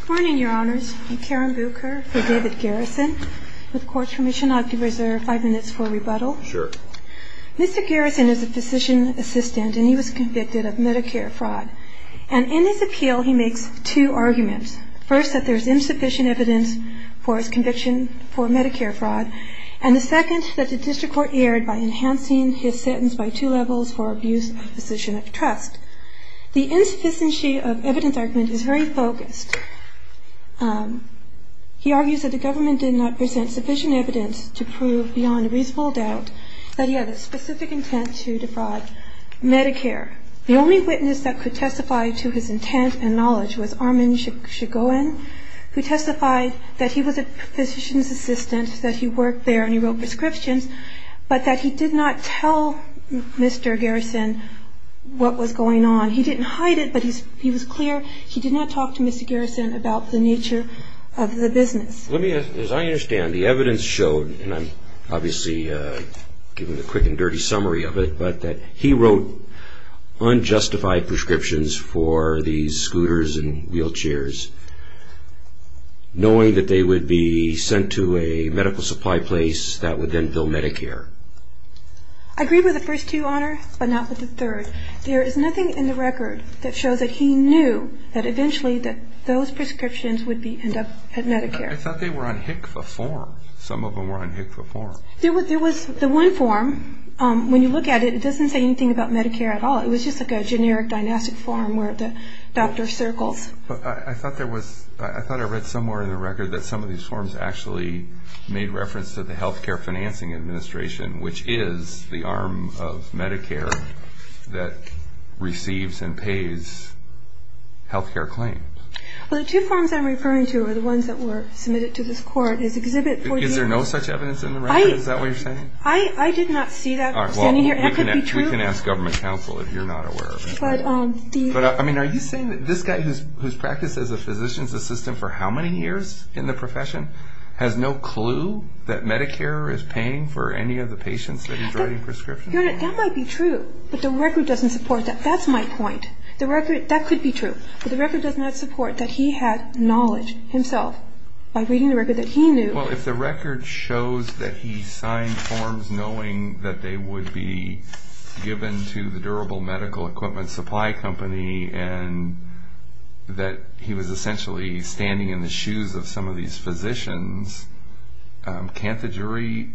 Good morning, your honors. I'm Karen Bucher for David Garrison. With court's permission, I'd like to reserve five minutes for rebuttal. Sure. Mr. Garrison is a physician assistant, and he was convicted of Medicare fraud. And in his appeal, he makes two arguments. First, that there's insufficient evidence for his conviction for Medicare fraud. And the second, that the district court erred by enhancing his sentence by two levels for abuse of physician of trust. The insufficiency of evidence argument is very focused. He argues that the government did not present sufficient evidence to prove beyond a reasonable doubt that he had a specific intent to defraud Medicare. The only witness that could testify to his intent and knowledge was Armin Shigoin, who testified that he was a physician's assistant, that he worked there and he wrote prescriptions, but that he did not tell Mr. Garrison what was going on. He didn't hide it, but he was clear he did not talk to Mr. Garrison about the nature of the business. Let me, as I understand, the evidence showed, and I'm obviously giving a quick and dirty summary of it, but that he wrote unjustified prescriptions for these scooters and wheelchairs, knowing that they would be sent to a medical supply place that would then bill Medicare. I agree with the first two, Honor, but not with the third. There is nothing in the record that shows that he knew that eventually those prescriptions would end up at Medicare. I thought they were on HCFA form. Some of them were on HCFA form. There was the one form. When you look at it, it doesn't say anything about Medicare at all. It was just like a generic dynastic form where the doctor circles. I thought I read somewhere in the record that some of these forms actually made reference to the Health Care Financing Administration, which is the arm of Medicare that receives and pays health care claims. The two forms I'm referring to are the ones that were submitted to this court. Is there no such evidence in the record? Is that what you're saying? I did not see that standing here. We can ask government counsel if you're not aware of it. Are you saying that this guy who's practiced as a physician's assistant for how many years in the profession has no clue that Medicare is paying for any of the patients that he's writing prescriptions for? That might be true, but the record doesn't support that. That's my point. That could be true, but the record does not support that he had knowledge himself by reading the record that he knew. Well, if the record shows that he signed forms knowing that they would be given to the Durable Medical Equipment Supply Company and that he was essentially standing in the shoes of some of these physicians, can't the jury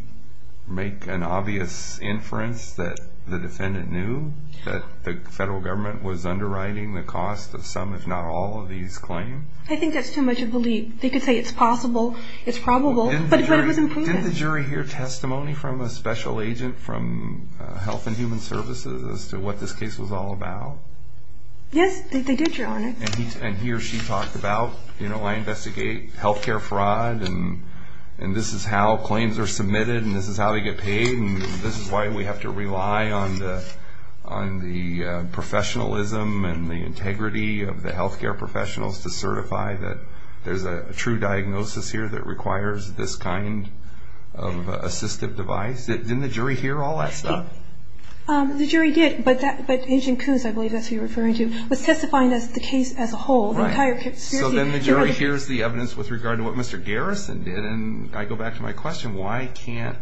make an obvious inference that the defendant knew that the federal government was underwriting the cost of some, if not all, of these claims? I think that's too much of a leap. They could say it's possible, it's probable, but it was imprudent. Didn't the jury hear testimony from a special agent from Health and Human Services as to what this case was all about? Yes, they did, Your Honor. And he or she talked about, you know, I investigate health care fraud and this is how claims are submitted and this is how they get paid and this is why we have to rely on the professionalism and the integrity of the health care professionals to certify that there's a true diagnosis here that requires this kind of assistive device. Didn't the jury hear all that stuff? The jury did, but Agent Coons, I believe that's who you're referring to, was testifying to the case as a whole. So then the jury hears the evidence with regard to what Mr. Garrison did and I go back to my question, why can't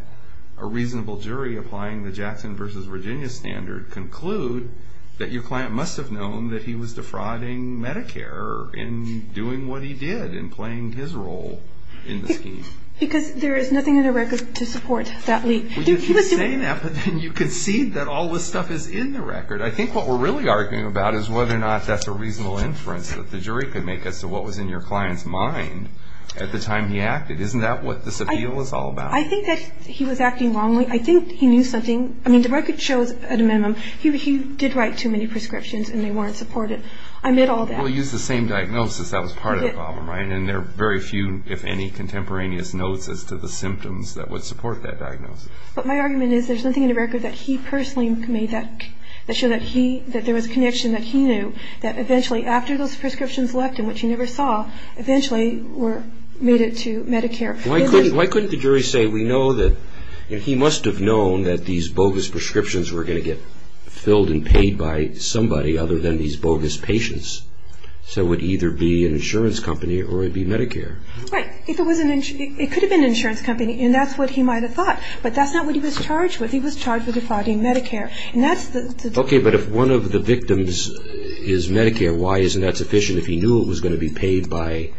a reasonable jury applying the Jackson versus Virginia standard conclude that your client must have known that he was defrauding Medicare in doing what he did in playing his role in the scheme? Because there is nothing in the record to support that leap. Well, you keep saying that, but then you concede that all this stuff is in the record. I think what we're really arguing about is whether or not that's a reasonable inference that the jury could make as to what was in your client's mind at the time he acted. Isn't that what this appeal is all about? I think that he was acting wrongly. I think he knew something. I mean, the record shows at a minimum he did write too many prescriptions and they weren't supported. I admit all that. Well, he used the same diagnosis that was part of the problem, right? And there are very few, if any, contemporaneous notes as to the symptoms that would support that diagnosis. But my argument is there's nothing in the record that he personally made that showed that there was a connection that he knew that eventually after those prescriptions left and which he never saw, eventually made it to Medicare. Why couldn't the jury say we know that he must have known that these bogus prescriptions were going to get filled and paid by somebody other than these bogus patients? So it would either be an insurance company or it would be Medicare. Right. It could have been an insurance company, and that's what he might have thought. But that's not what he was charged with. He was charged with defrauding Medicare. Okay, but if one of the victims is Medicare, why isn't that sufficient? If he knew it was going to be paid by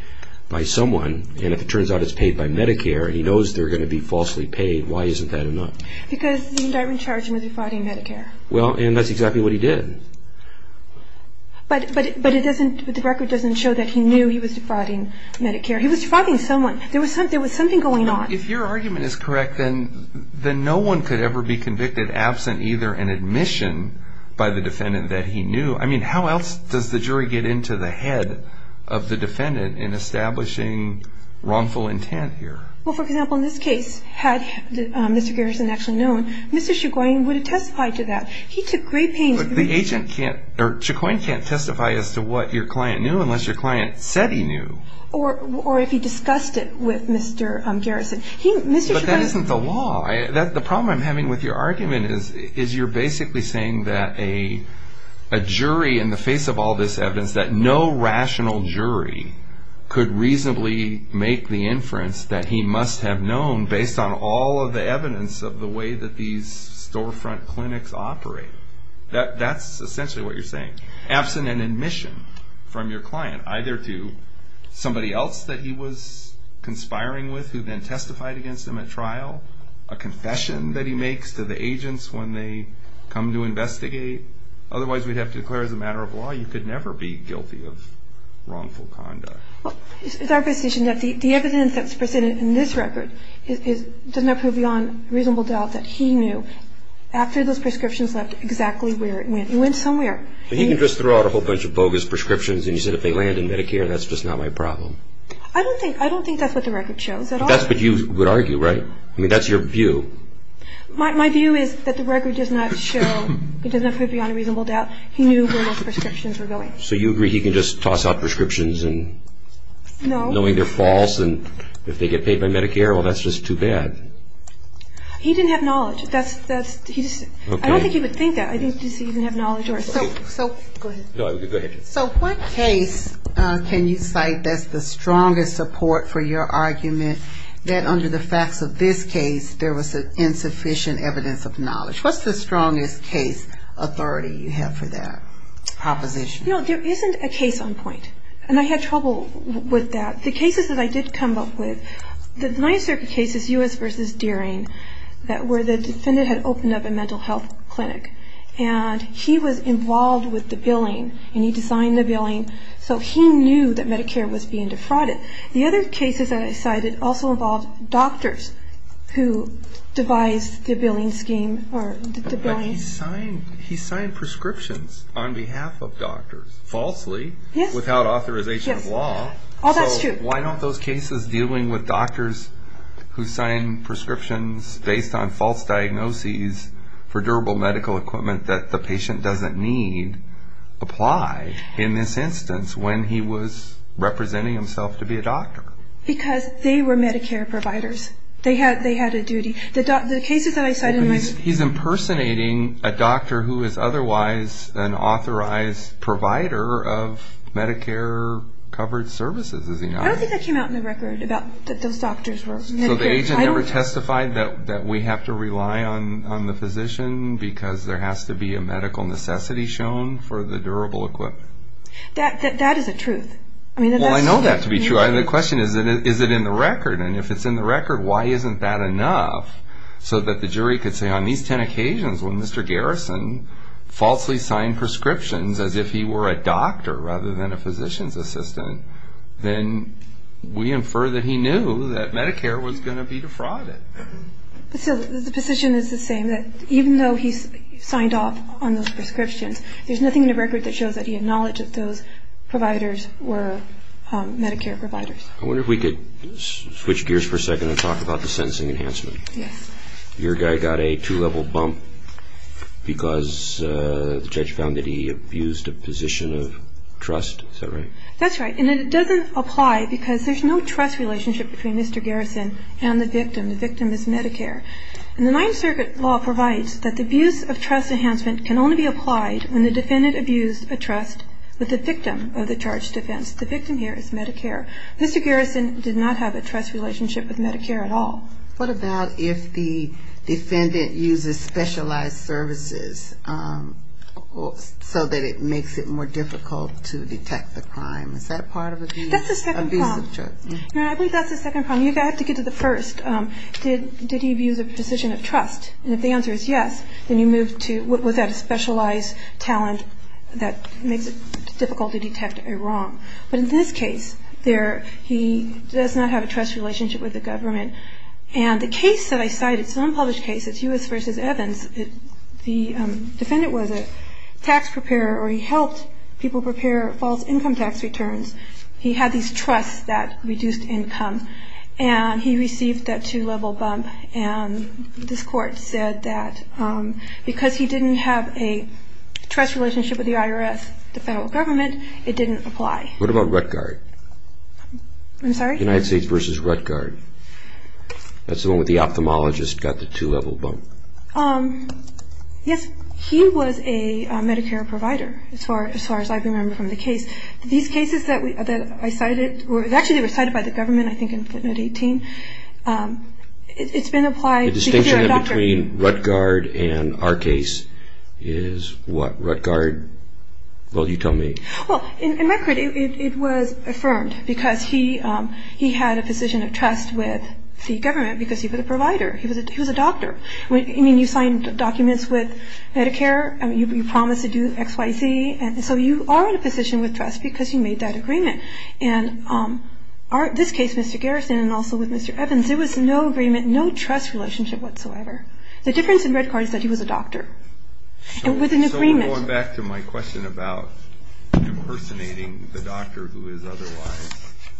someone and if it turns out it's paid by Medicare and he knows they're going to be falsely paid, why isn't that enough? Because the indictment charged him with defrauding Medicare. Well, and that's exactly what he did. But the record doesn't show that he knew he was defrauding Medicare. He was defrauding someone. There was something going on. If your argument is correct, then no one could ever be convicted absent either an admission by the defendant that he knew. I mean, how else does the jury get into the head of the defendant in establishing wrongful intent here? Well, for example, in this case, had Mr. Garrison actually known, Mr. Chicoine would have testified to that. He took great pains. The agent can't, or Chicoine can't testify as to what your client knew unless your client said he knew. Or if he discussed it with Mr. Garrison. But that isn't the law. The problem I'm having with your argument is you're basically saying that a jury, in the face of all this evidence, that no rational jury could reasonably make the inference that he must have known based on all of the evidence of the way that these storefront clinics operate. That's essentially what you're saying. Absent an admission from your client, either to somebody else that he was conspiring with who then testified against him at trial, a confession that he makes to the agents when they come to investigate. Otherwise, we'd have to declare as a matter of law you could never be guilty of wrongful conduct. Well, it's our position that the evidence that's presented in this record does not prove beyond reasonable doubt that he knew after those prescriptions left exactly where it went. It went somewhere. He can just throw out a whole bunch of bogus prescriptions and you say, if they land in Medicare, that's just not my problem. I don't think that's what the record shows at all. But that's what you would argue, right? I mean, that's your view. My view is that the record does not show, it does not prove beyond a reasonable doubt he knew where those prescriptions were going. So you agree he can just toss out prescriptions knowing they're false and if they get paid by Medicare, well, that's just too bad. He didn't have knowledge. I don't think he would think that. I don't think he would have knowledge. Go ahead. Go ahead. So what case can you cite that's the strongest support for your argument that under the facts of this case there was insufficient evidence of knowledge? What's the strongest case authority you have for that proposition? No, there isn't a case on point. And I had trouble with that. The cases that I did come up with, the Ninth Circuit cases, U.S. v. Deering, where the defendant had opened up a mental health clinic and he was involved with the billing and he designed the billing so he knew that Medicare was being defrauded. The other cases that I cited also involved doctors who devised the billing scheme. But he signed prescriptions on behalf of doctors, falsely, without authorization of law. Yes, that's true. But why don't those cases dealing with doctors who sign prescriptions based on false diagnoses for durable medical equipment that the patient doesn't need apply in this instance when he was representing himself to be a doctor? Because they were Medicare providers. They had a duty. The cases that I cited in my... But he's impersonating a doctor who is otherwise an authorized provider of Medicare-covered services, is he not? I don't think that came out in the record that those doctors were Medicare. So the agent never testified that we have to rely on the physician because there has to be a medical necessity shown for the durable equipment? That is a truth. Well, I know that to be true. The question is, is it in the record? And if it's in the record, why isn't that enough so that the jury could say, on these ten occasions when Mr. Garrison falsely signed prescriptions as if he were a doctor rather than a physician's assistant, then we infer that he knew that Medicare was going to be defrauded. So the position is the same, that even though he signed off on those prescriptions, there's nothing in the record that shows that he had knowledge that those providers were Medicare providers. I wonder if we could switch gears for a second and talk about the sentencing enhancement. Yes. Your guy got a two-level bump because the judge found that he abused a position of trust. Is that right? That's right. And it doesn't apply because there's no trust relationship between Mr. Garrison and the victim. The victim is Medicare. And the Ninth Circuit law provides that the abuse of trust enhancement can only be applied when the defendant abused a trust with the victim of the charged offense. The victim here is Medicare. Mr. Garrison did not have a trust relationship with Medicare at all. What about if the defendant uses specialized services so that it makes it more difficult to detect the crime? Is that part of the abuse of trust? That's the second problem. I believe that's the second problem. You have to get to the first. Did he abuse a position of trust? And if the answer is yes, then you move to, was that a specialized talent that makes it difficult to detect a wrong? But in this case, he does not have a trust relationship with the government. And the case that I cited is an unpublished case. It's Hughes v. Evans. The defendant was a tax preparer, or he helped people prepare false income tax returns. He had these trusts that reduced income. And he received that two-level bump. And this court said that because he didn't have a trust relationship with the IRS, the federal government, it didn't apply. What about Ruttgard? I'm sorry? United States v. Ruttgard. That's the one where the ophthalmologist got the two-level bump. Yes, he was a Medicare provider, as far as I can remember from the case. These cases that I cited were actually cited by the government, I think, in footnote 18. It's been applied. The distinction between Ruttgard and our case is what? Ruttgard? Well, you tell me. Well, in record, it was affirmed because he had a position of trust with the government because he was a provider. He was a doctor. I mean, you signed documents with Medicare. You promised to do XYZ. And so you are in a position with trust because you made that agreement. And this case, Mr. Garrison, and also with Mr. Evans, there was no agreement, no trust relationship whatsoever. The difference in Ruttgard is that he was a doctor with an agreement. So going back to my question about impersonating the doctor who is otherwise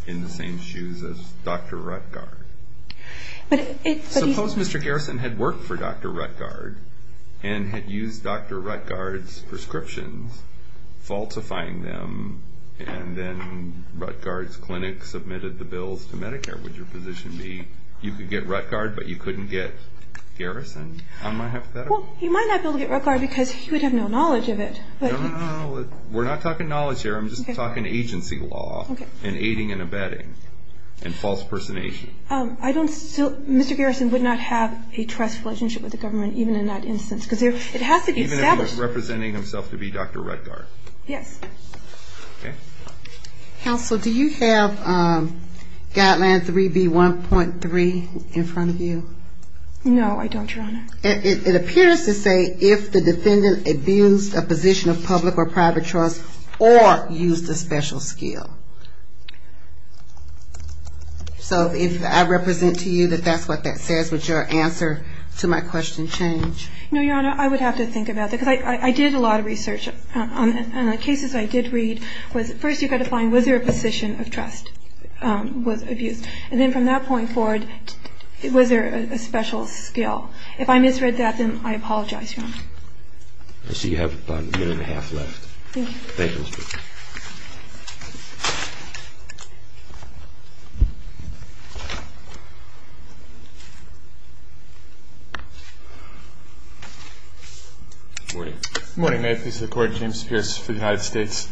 in the same shoes as Dr. Ruttgard, suppose Mr. Garrison had worked for Dr. Ruttgard and had used Dr. Ruttgard's prescriptions, falsifying them, and then Ruttgard's clinic submitted the bills to Medicare. Would your position be you could get Ruttgard but you couldn't get Garrison? Well, he might not be able to get Ruttgard because he would have no knowledge of it. No, no, no. We're not talking knowledge here. I'm just talking agency law and aiding and abetting and false impersonation. Mr. Garrison would not have a trust relationship with the government even in that instance because it has to be established. Even if he was representing himself to be Dr. Ruttgard? Yes. Okay. Counsel, do you have guideline 3B1.3 in front of you? No, I don't, Your Honor. It appears to say if the defendant abused a position of public or private trust or used a special skill. So if I represent to you that that's what that says, would your answer to my question change? No, Your Honor, I would have to think about that because I did a lot of research on the cases I did read. First, you've got to find was there a position of trust was abused? And then from that point forward, was there a special skill? If I misread that, then I apologize, Your Honor. I see you have about a minute and a half left. Thank you. Thank you. Thank you. Good morning. Good morning. May it please the Court, James Pierce for the United States.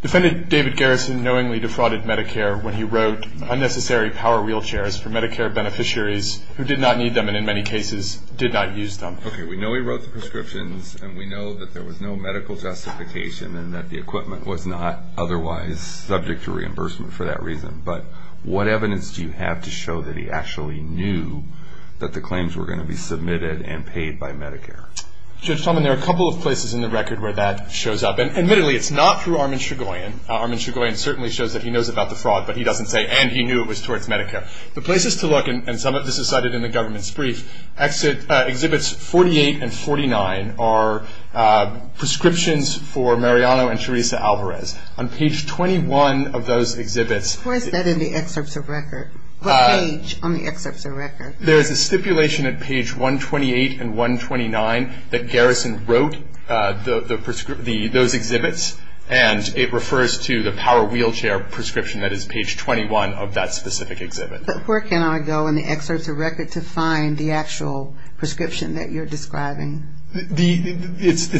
Defendant David Garrison knowingly defrauded Medicare when he wrote unnecessary power wheelchairs for Medicare beneficiaries who did not need them and in many cases did not use them. Okay, we know he wrote the prescriptions, and we know that there was no medical justification and that the equipment was not otherwise subject to reimbursement for that reason, but what evidence do you have to show that he actually knew that the claims were going to be submitted and paid by Medicare? Judge Talman, there are a couple of places in the record where that shows up. Admittedly, it's not through Armin Shugoyan. Armin Shugoyan certainly shows that he knows about the fraud, but he doesn't say and he knew it was towards Medicare. The places to look, and some of this is cited in the government's brief, Exhibits 48 and 49 are prescriptions for Mariano and Teresa Alvarez. On page 21 of those exhibits. Where is that in the excerpts of record? What page on the excerpts of record? There is a stipulation at page 128 and 129 that Garrison wrote those exhibits, and it refers to the power wheelchair prescription that is page 21 of that specific exhibit. But where can I go in the excerpts of record to find the actual prescription that you're describing? That's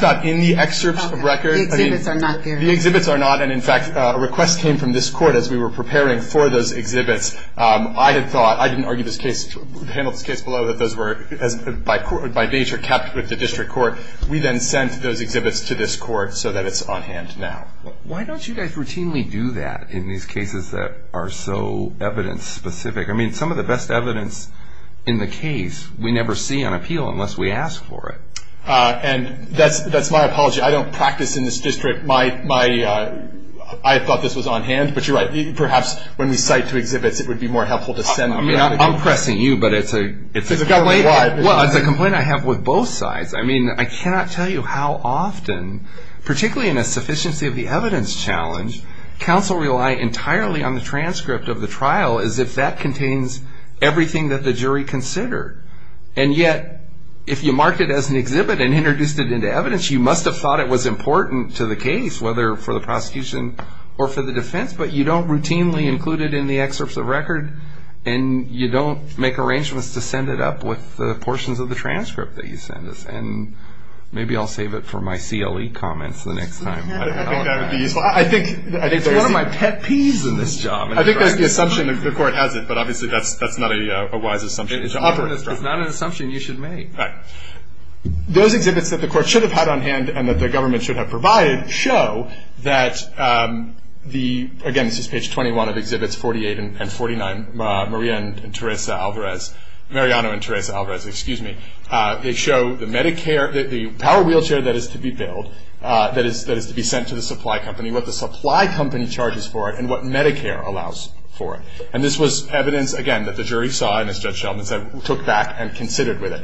not in the excerpts of record. The exhibits are not there. The exhibits are not, and in fact, a request came from this court as we were preparing for those exhibits. I had thought, I didn't argue this case, handle this case below that those were by nature kept with the district court. We then sent those exhibits to this court so that it's on hand now. Why don't you guys routinely do that in these cases that are so evidence specific? I mean, some of the best evidence in the case we never see on appeal unless we ask for it. And that's my apology. I don't practice in this district. I thought this was on hand, but you're right. Perhaps when we cite two exhibits, it would be more helpful to send them. I'm pressing you, but it's a complaint. It's a complaint. Well, it's a complaint I have with both sides. I mean, I cannot tell you how often, particularly in a sufficiency of the evidence challenge, counsel rely entirely on the transcript of the trial as if that contains everything that the jury considered. And yet, if you marked it as an exhibit and introduced it into evidence, you must have thought it was important to the case, whether for the prosecution or for the defense, but you don't routinely include it in the excerpts of record, and you don't make arrangements to send it up with the portions of the transcript that you send us. And maybe I'll save it for my CLE comments the next time. I think that would be useful. It's one of my pet peeves in this job. I think that's the assumption. The Court has it, but obviously that's not a wise assumption to offer. It's not an assumption you should make. Right. Those exhibits that the Court should have had on hand and that the government should have provided show that the, again, this is page 21 of exhibits 48 and 49, Maria and Teresa Alvarez, Mariano and Teresa Alvarez, excuse me. They show the Medicare, the power wheelchair that is to be billed, that is to be sent to the supply company, what the supply company charges for it, and what Medicare allows for it. And this was evidence, again, that the jury saw and, as Judge Sheldon said, took back and considered with it.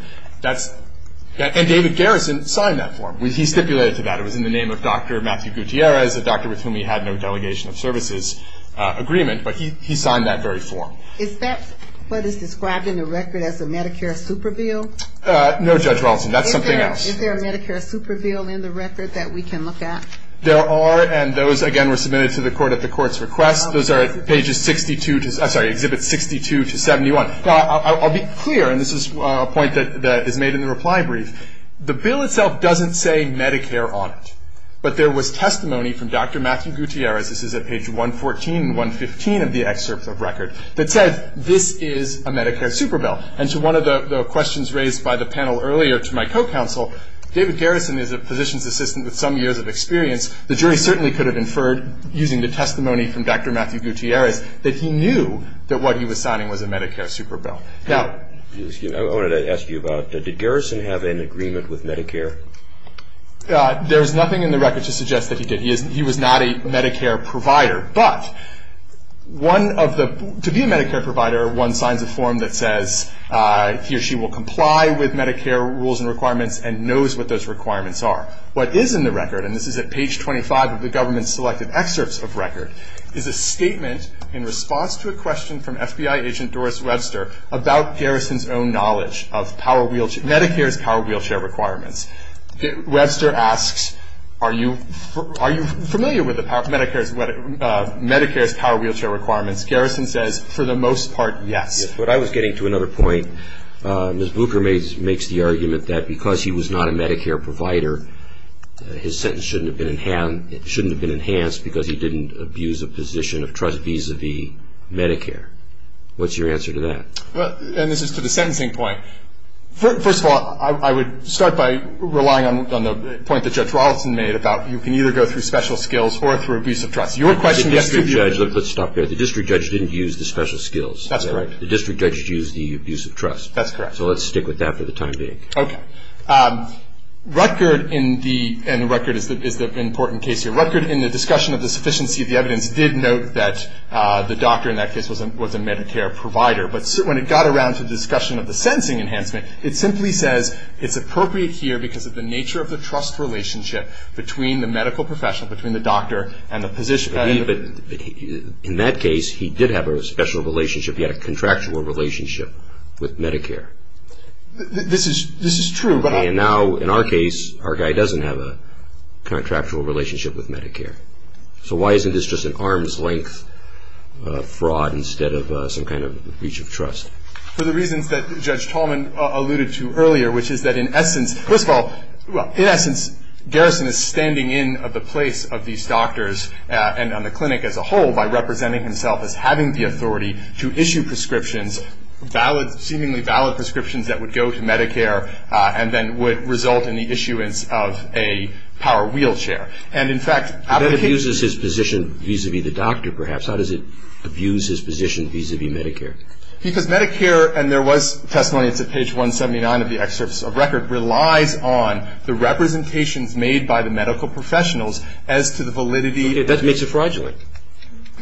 And David Garrison signed that form. He stipulated to that. It was in the name of Dr. Matthew Gutierrez, a doctor with whom he had no delegation of services agreement, but he signed that very form. Is that what is described in the record as a Medicare super bill? No, Judge Rawlinson, that's something else. Is there a Medicare super bill in the record that we can look at? There are, and those, again, were submitted to the Court at the Court's request. Those are at pages 62 to, I'm sorry, exhibits 62 to 71. I'll be clear, and this is a point that is made in the reply brief. The bill itself doesn't say Medicare on it. But there was testimony from Dr. Matthew Gutierrez, this is at page 114 and 115 of the excerpt of record, that said this is a Medicare super bill. And to one of the questions raised by the panel earlier to my co-counsel, David Garrison is a positions assistant with some years of experience. The jury certainly could have inferred, using the testimony from Dr. Matthew Gutierrez, that he knew that what he was signing was a Medicare super bill. I wanted to ask you about, did Garrison have an agreement with Medicare? There is nothing in the record to suggest that he did. He was not a Medicare provider. But to be a Medicare provider, one signs a form that says he or she will comply with Medicare rules and requirements and knows what those requirements are. What is in the record, and this is at page 25 of the government's selected excerpts of record, is a statement in response to a question from FBI agent Doris Webster about Garrison's own knowledge of Medicare's power wheelchair requirements. Webster asks, are you familiar with Medicare's power wheelchair requirements? Garrison says, for the most part, yes. What I was getting to another point, Ms. Bucher makes the argument that because he was not a Medicare provider, his sentence shouldn't have been enhanced because he didn't abuse a position of trust vis-à-vis Medicare. What's your answer to that? And this is to the sentencing point. First of all, I would start by relying on the point that Judge Rawlinson made about you can either go through special skills or through abuse of trust. Your question gets to the other. Let's stop there. The district judge didn't use the special skills. That's correct. The district judge used the abuse of trust. That's correct. So let's stick with that for the time being. Okay. Rutgerd in the — and Rutgerd is the important case here. Rutgerd, in the discussion of the sufficiency of the evidence, did note that the doctor in that case was a Medicare provider. But when it got around to the discussion of the sentencing enhancement, it simply says it's appropriate here because of the nature of the trust relationship between the medical professional, between the doctor and the position. In that case, he did have a special relationship. He had a contractual relationship with Medicare. This is true. And now, in our case, our guy doesn't have a contractual relationship with Medicare. So why isn't this just an arm's length fraud instead of some kind of breach of trust? For the reasons that Judge Tallman alluded to earlier, which is that in essence, first of all, in essence, Garrison is standing in the place of these doctors and on the clinic as a whole by representing himself as having the authority to issue prescriptions, valid, seemingly valid prescriptions that would go to Medicare and then would result in the issuance of a power wheelchair. And, in fact, out of the case — But that abuses his position vis-a-vis the doctor, perhaps. How does it abuse his position vis-a-vis Medicare? Because Medicare, and there was testimony, it's at page 179 of the excerpt of record, relies on the representations made by the medical professionals as to the validity — That makes it fraudulent.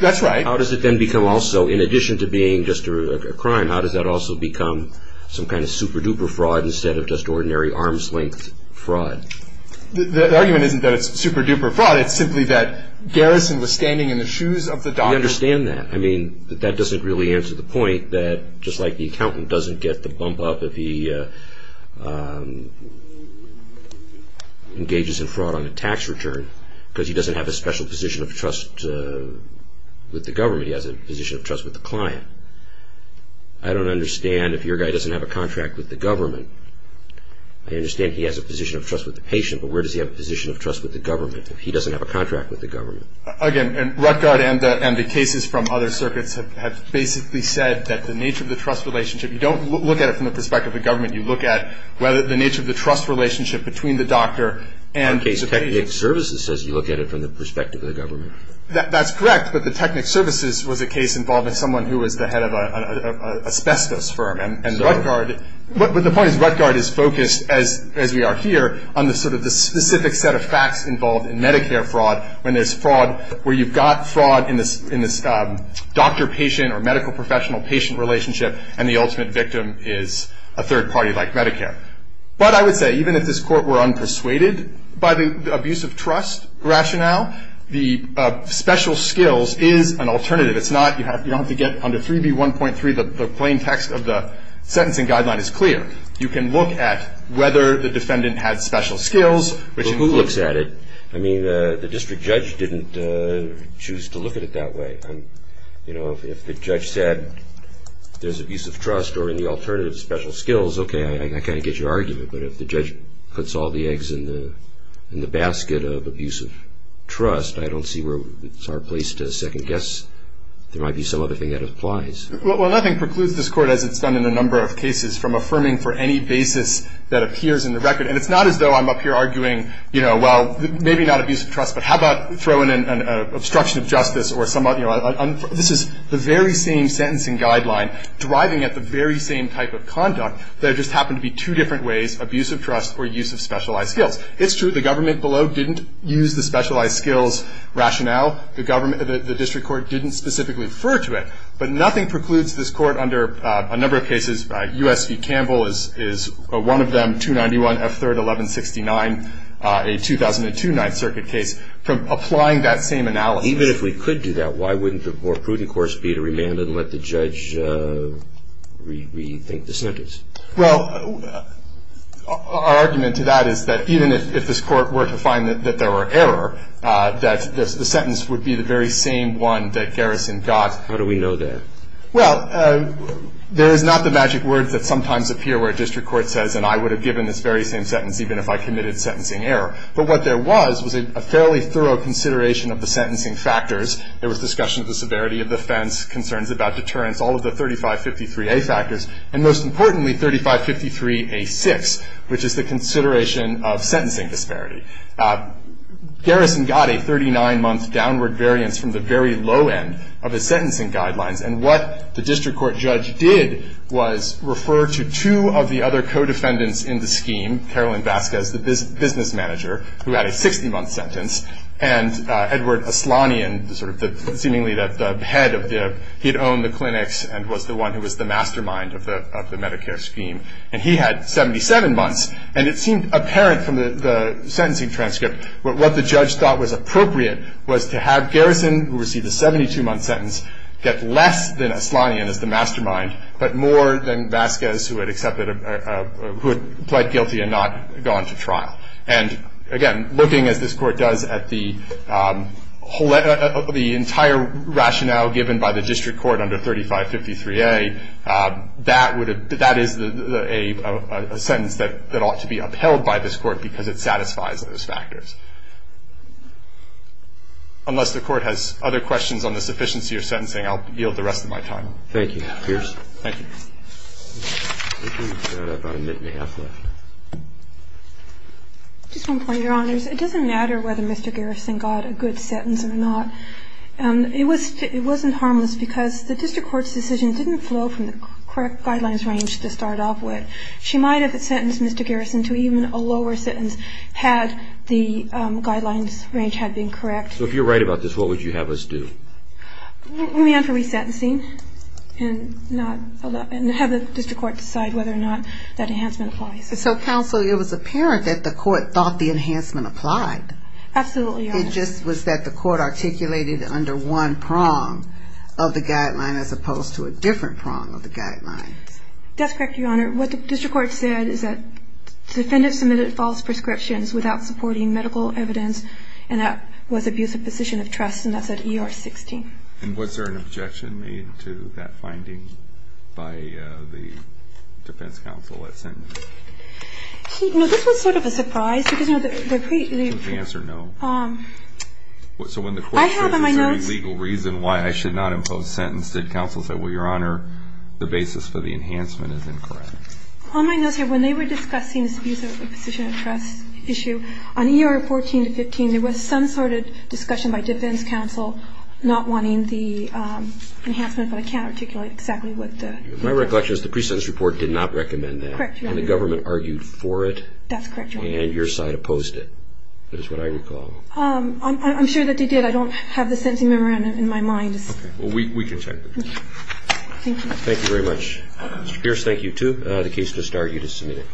That's right. How does it then become also, in addition to being just a crime, how does that also become some kind of super-duper fraud instead of just ordinary arm's length fraud? The argument isn't that it's super-duper fraud. It's simply that Garrison was standing in the shoes of the doctor — We understand that. I mean, but that doesn't really answer the point that, just like the accountant doesn't get the bump up if he engages in fraud on a tax return because he doesn't have a special position of trust with the government. He has a position of trust with the client. I don't understand if your guy doesn't have a contract with the government. I understand he has a position of trust with the patient, but where does he have a position of trust with the government if he doesn't have a contract with the government? Again, Rutgard and the cases from other circuits have basically said that the nature of the trust relationship — You don't look at it from the perspective of the government. The case Technic Services says you look at it from the perspective of the government. That's correct, but the Technic Services was a case involving someone who was the head of an asbestos firm. And Rutgard — But the point is Rutgard is focused, as we are here, on sort of the specific set of facts involved in Medicare fraud when there's fraud where you've got fraud in this doctor-patient or medical-professional-patient relationship, and the ultimate victim is a third party like Medicare. But I would say, even if this Court were unpersuaded by the abuse of trust rationale, the special skills is an alternative. It's not — you don't have to get under 3B1.3. The plain text of the sentencing guideline is clear. You can look at whether the defendant had special skills, which includes — Well, who looks at it? I mean, the district judge didn't choose to look at it that way. You know, if the judge said there's abuse of trust or any alternative special skills, okay, I kind of get your argument. But if the judge puts all the eggs in the basket of abuse of trust, I don't see where it's our place to second-guess. There might be some other thing that applies. Well, nothing precludes this Court, as it's done in a number of cases, from affirming for any basis that appears in the record. And it's not as though I'm up here arguing, you know, well, maybe not abuse of trust, but how about throwing in an obstruction of justice or some other — This is the very same sentencing guideline driving at the very same type of conduct that just happened to be two different ways, abuse of trust or use of specialized skills. It's true the government below didn't use the specialized skills rationale. The district court didn't specifically refer to it. But nothing precludes this Court under a number of cases — U.S. v. Campbell is one of them, 291 F. 3rd, 1169, a 2002 Ninth Circuit case — from applying that same analogy. Even if we could do that, why wouldn't the more prudent course be to remand and let the judge rethink the sentence? Well, our argument to that is that even if this Court were to find that there were error, that the sentence would be the very same one that Garrison got. How do we know that? Well, there is not the magic word that sometimes appears where a district court says, and I would have given this very same sentence even if I committed sentencing error. But what there was was a fairly thorough consideration of the sentencing factors. There was discussion of the severity of the offense, concerns about deterrence, all of the 3553A factors, and most importantly, 3553A6, which is the consideration of sentencing disparity. Garrison got a 39-month downward variance from the very low end of his sentencing guidelines. And what the district court judge did was refer to two of the other co-defendants in the scheme, Carolyn Vasquez, the business manager, who had a 60-month sentence, and Edward Aslanian, seemingly the head of the, he had owned the clinics and was the one who was the mastermind of the Medicare scheme. And he had 77 months, and it seemed apparent from the sentencing transcript that what the judge thought was appropriate was to have Garrison, who received a 72-month sentence, get less than Aslanian as the mastermind, but more than Vasquez, who had accepted, who had pled guilty and not gone to trial. And, again, looking, as this Court does, at the entire rationale given by the district court under 3553A, that is a sentence that ought to be upheld by this Court because it satisfies those factors. Unless the Court has other questions on the sufficiency of sentencing, I'll yield the rest of my time. Thank you, Mr. Pearson. Thank you. I've got about a minute and a half left. Just one point, Your Honors. It doesn't matter whether Mr. Garrison got a good sentence or not. It wasn't harmless because the district court's decision didn't flow from the correct guidelines range to start off with. She might have sentenced Mr. Garrison to even a lower sentence had the guidelines range had been correct. So if you're right about this, what would you have us do? We'd be on for resentencing and have the district court decide whether or not that enhancement applies. So, counsel, it was apparent that the court thought the enhancement applied. Absolutely, Your Honor. It just was that the court articulated under one prong of the guideline as opposed to a different prong of the guideline. That's correct, Your Honor. What the district court said is that the defendant submitted false prescriptions without supporting medical evidence, and that was abuse of position of trust, and that's at ER 16. And was there an objection made to that finding by the defense counsel at sentencing? This was sort of a surprise. The answer, no. So when the court says there's a legal reason why I should not impose sentence, did counsel say, well, Your Honor, the basis for the enhancement is incorrect? On my notes here, when they were discussing this abuse of position of trust issue, on ER 14 to 15, there was some sort of discussion by defense counsel not wanting the enhancement, but I can't articulate exactly what the reason was. My recollection is the pre-sentence report did not recommend that. Correct, Your Honor. And the government argued for it. That's correct, Your Honor. And your side opposed it, is what I recall. I'm sure that they did. I don't have the sentencing memorandum in my mind. Okay. Well, we can check. Okay. Thank you. Thank you very much. Mr. Pierce, thank you, too. The case does start. You just submit it.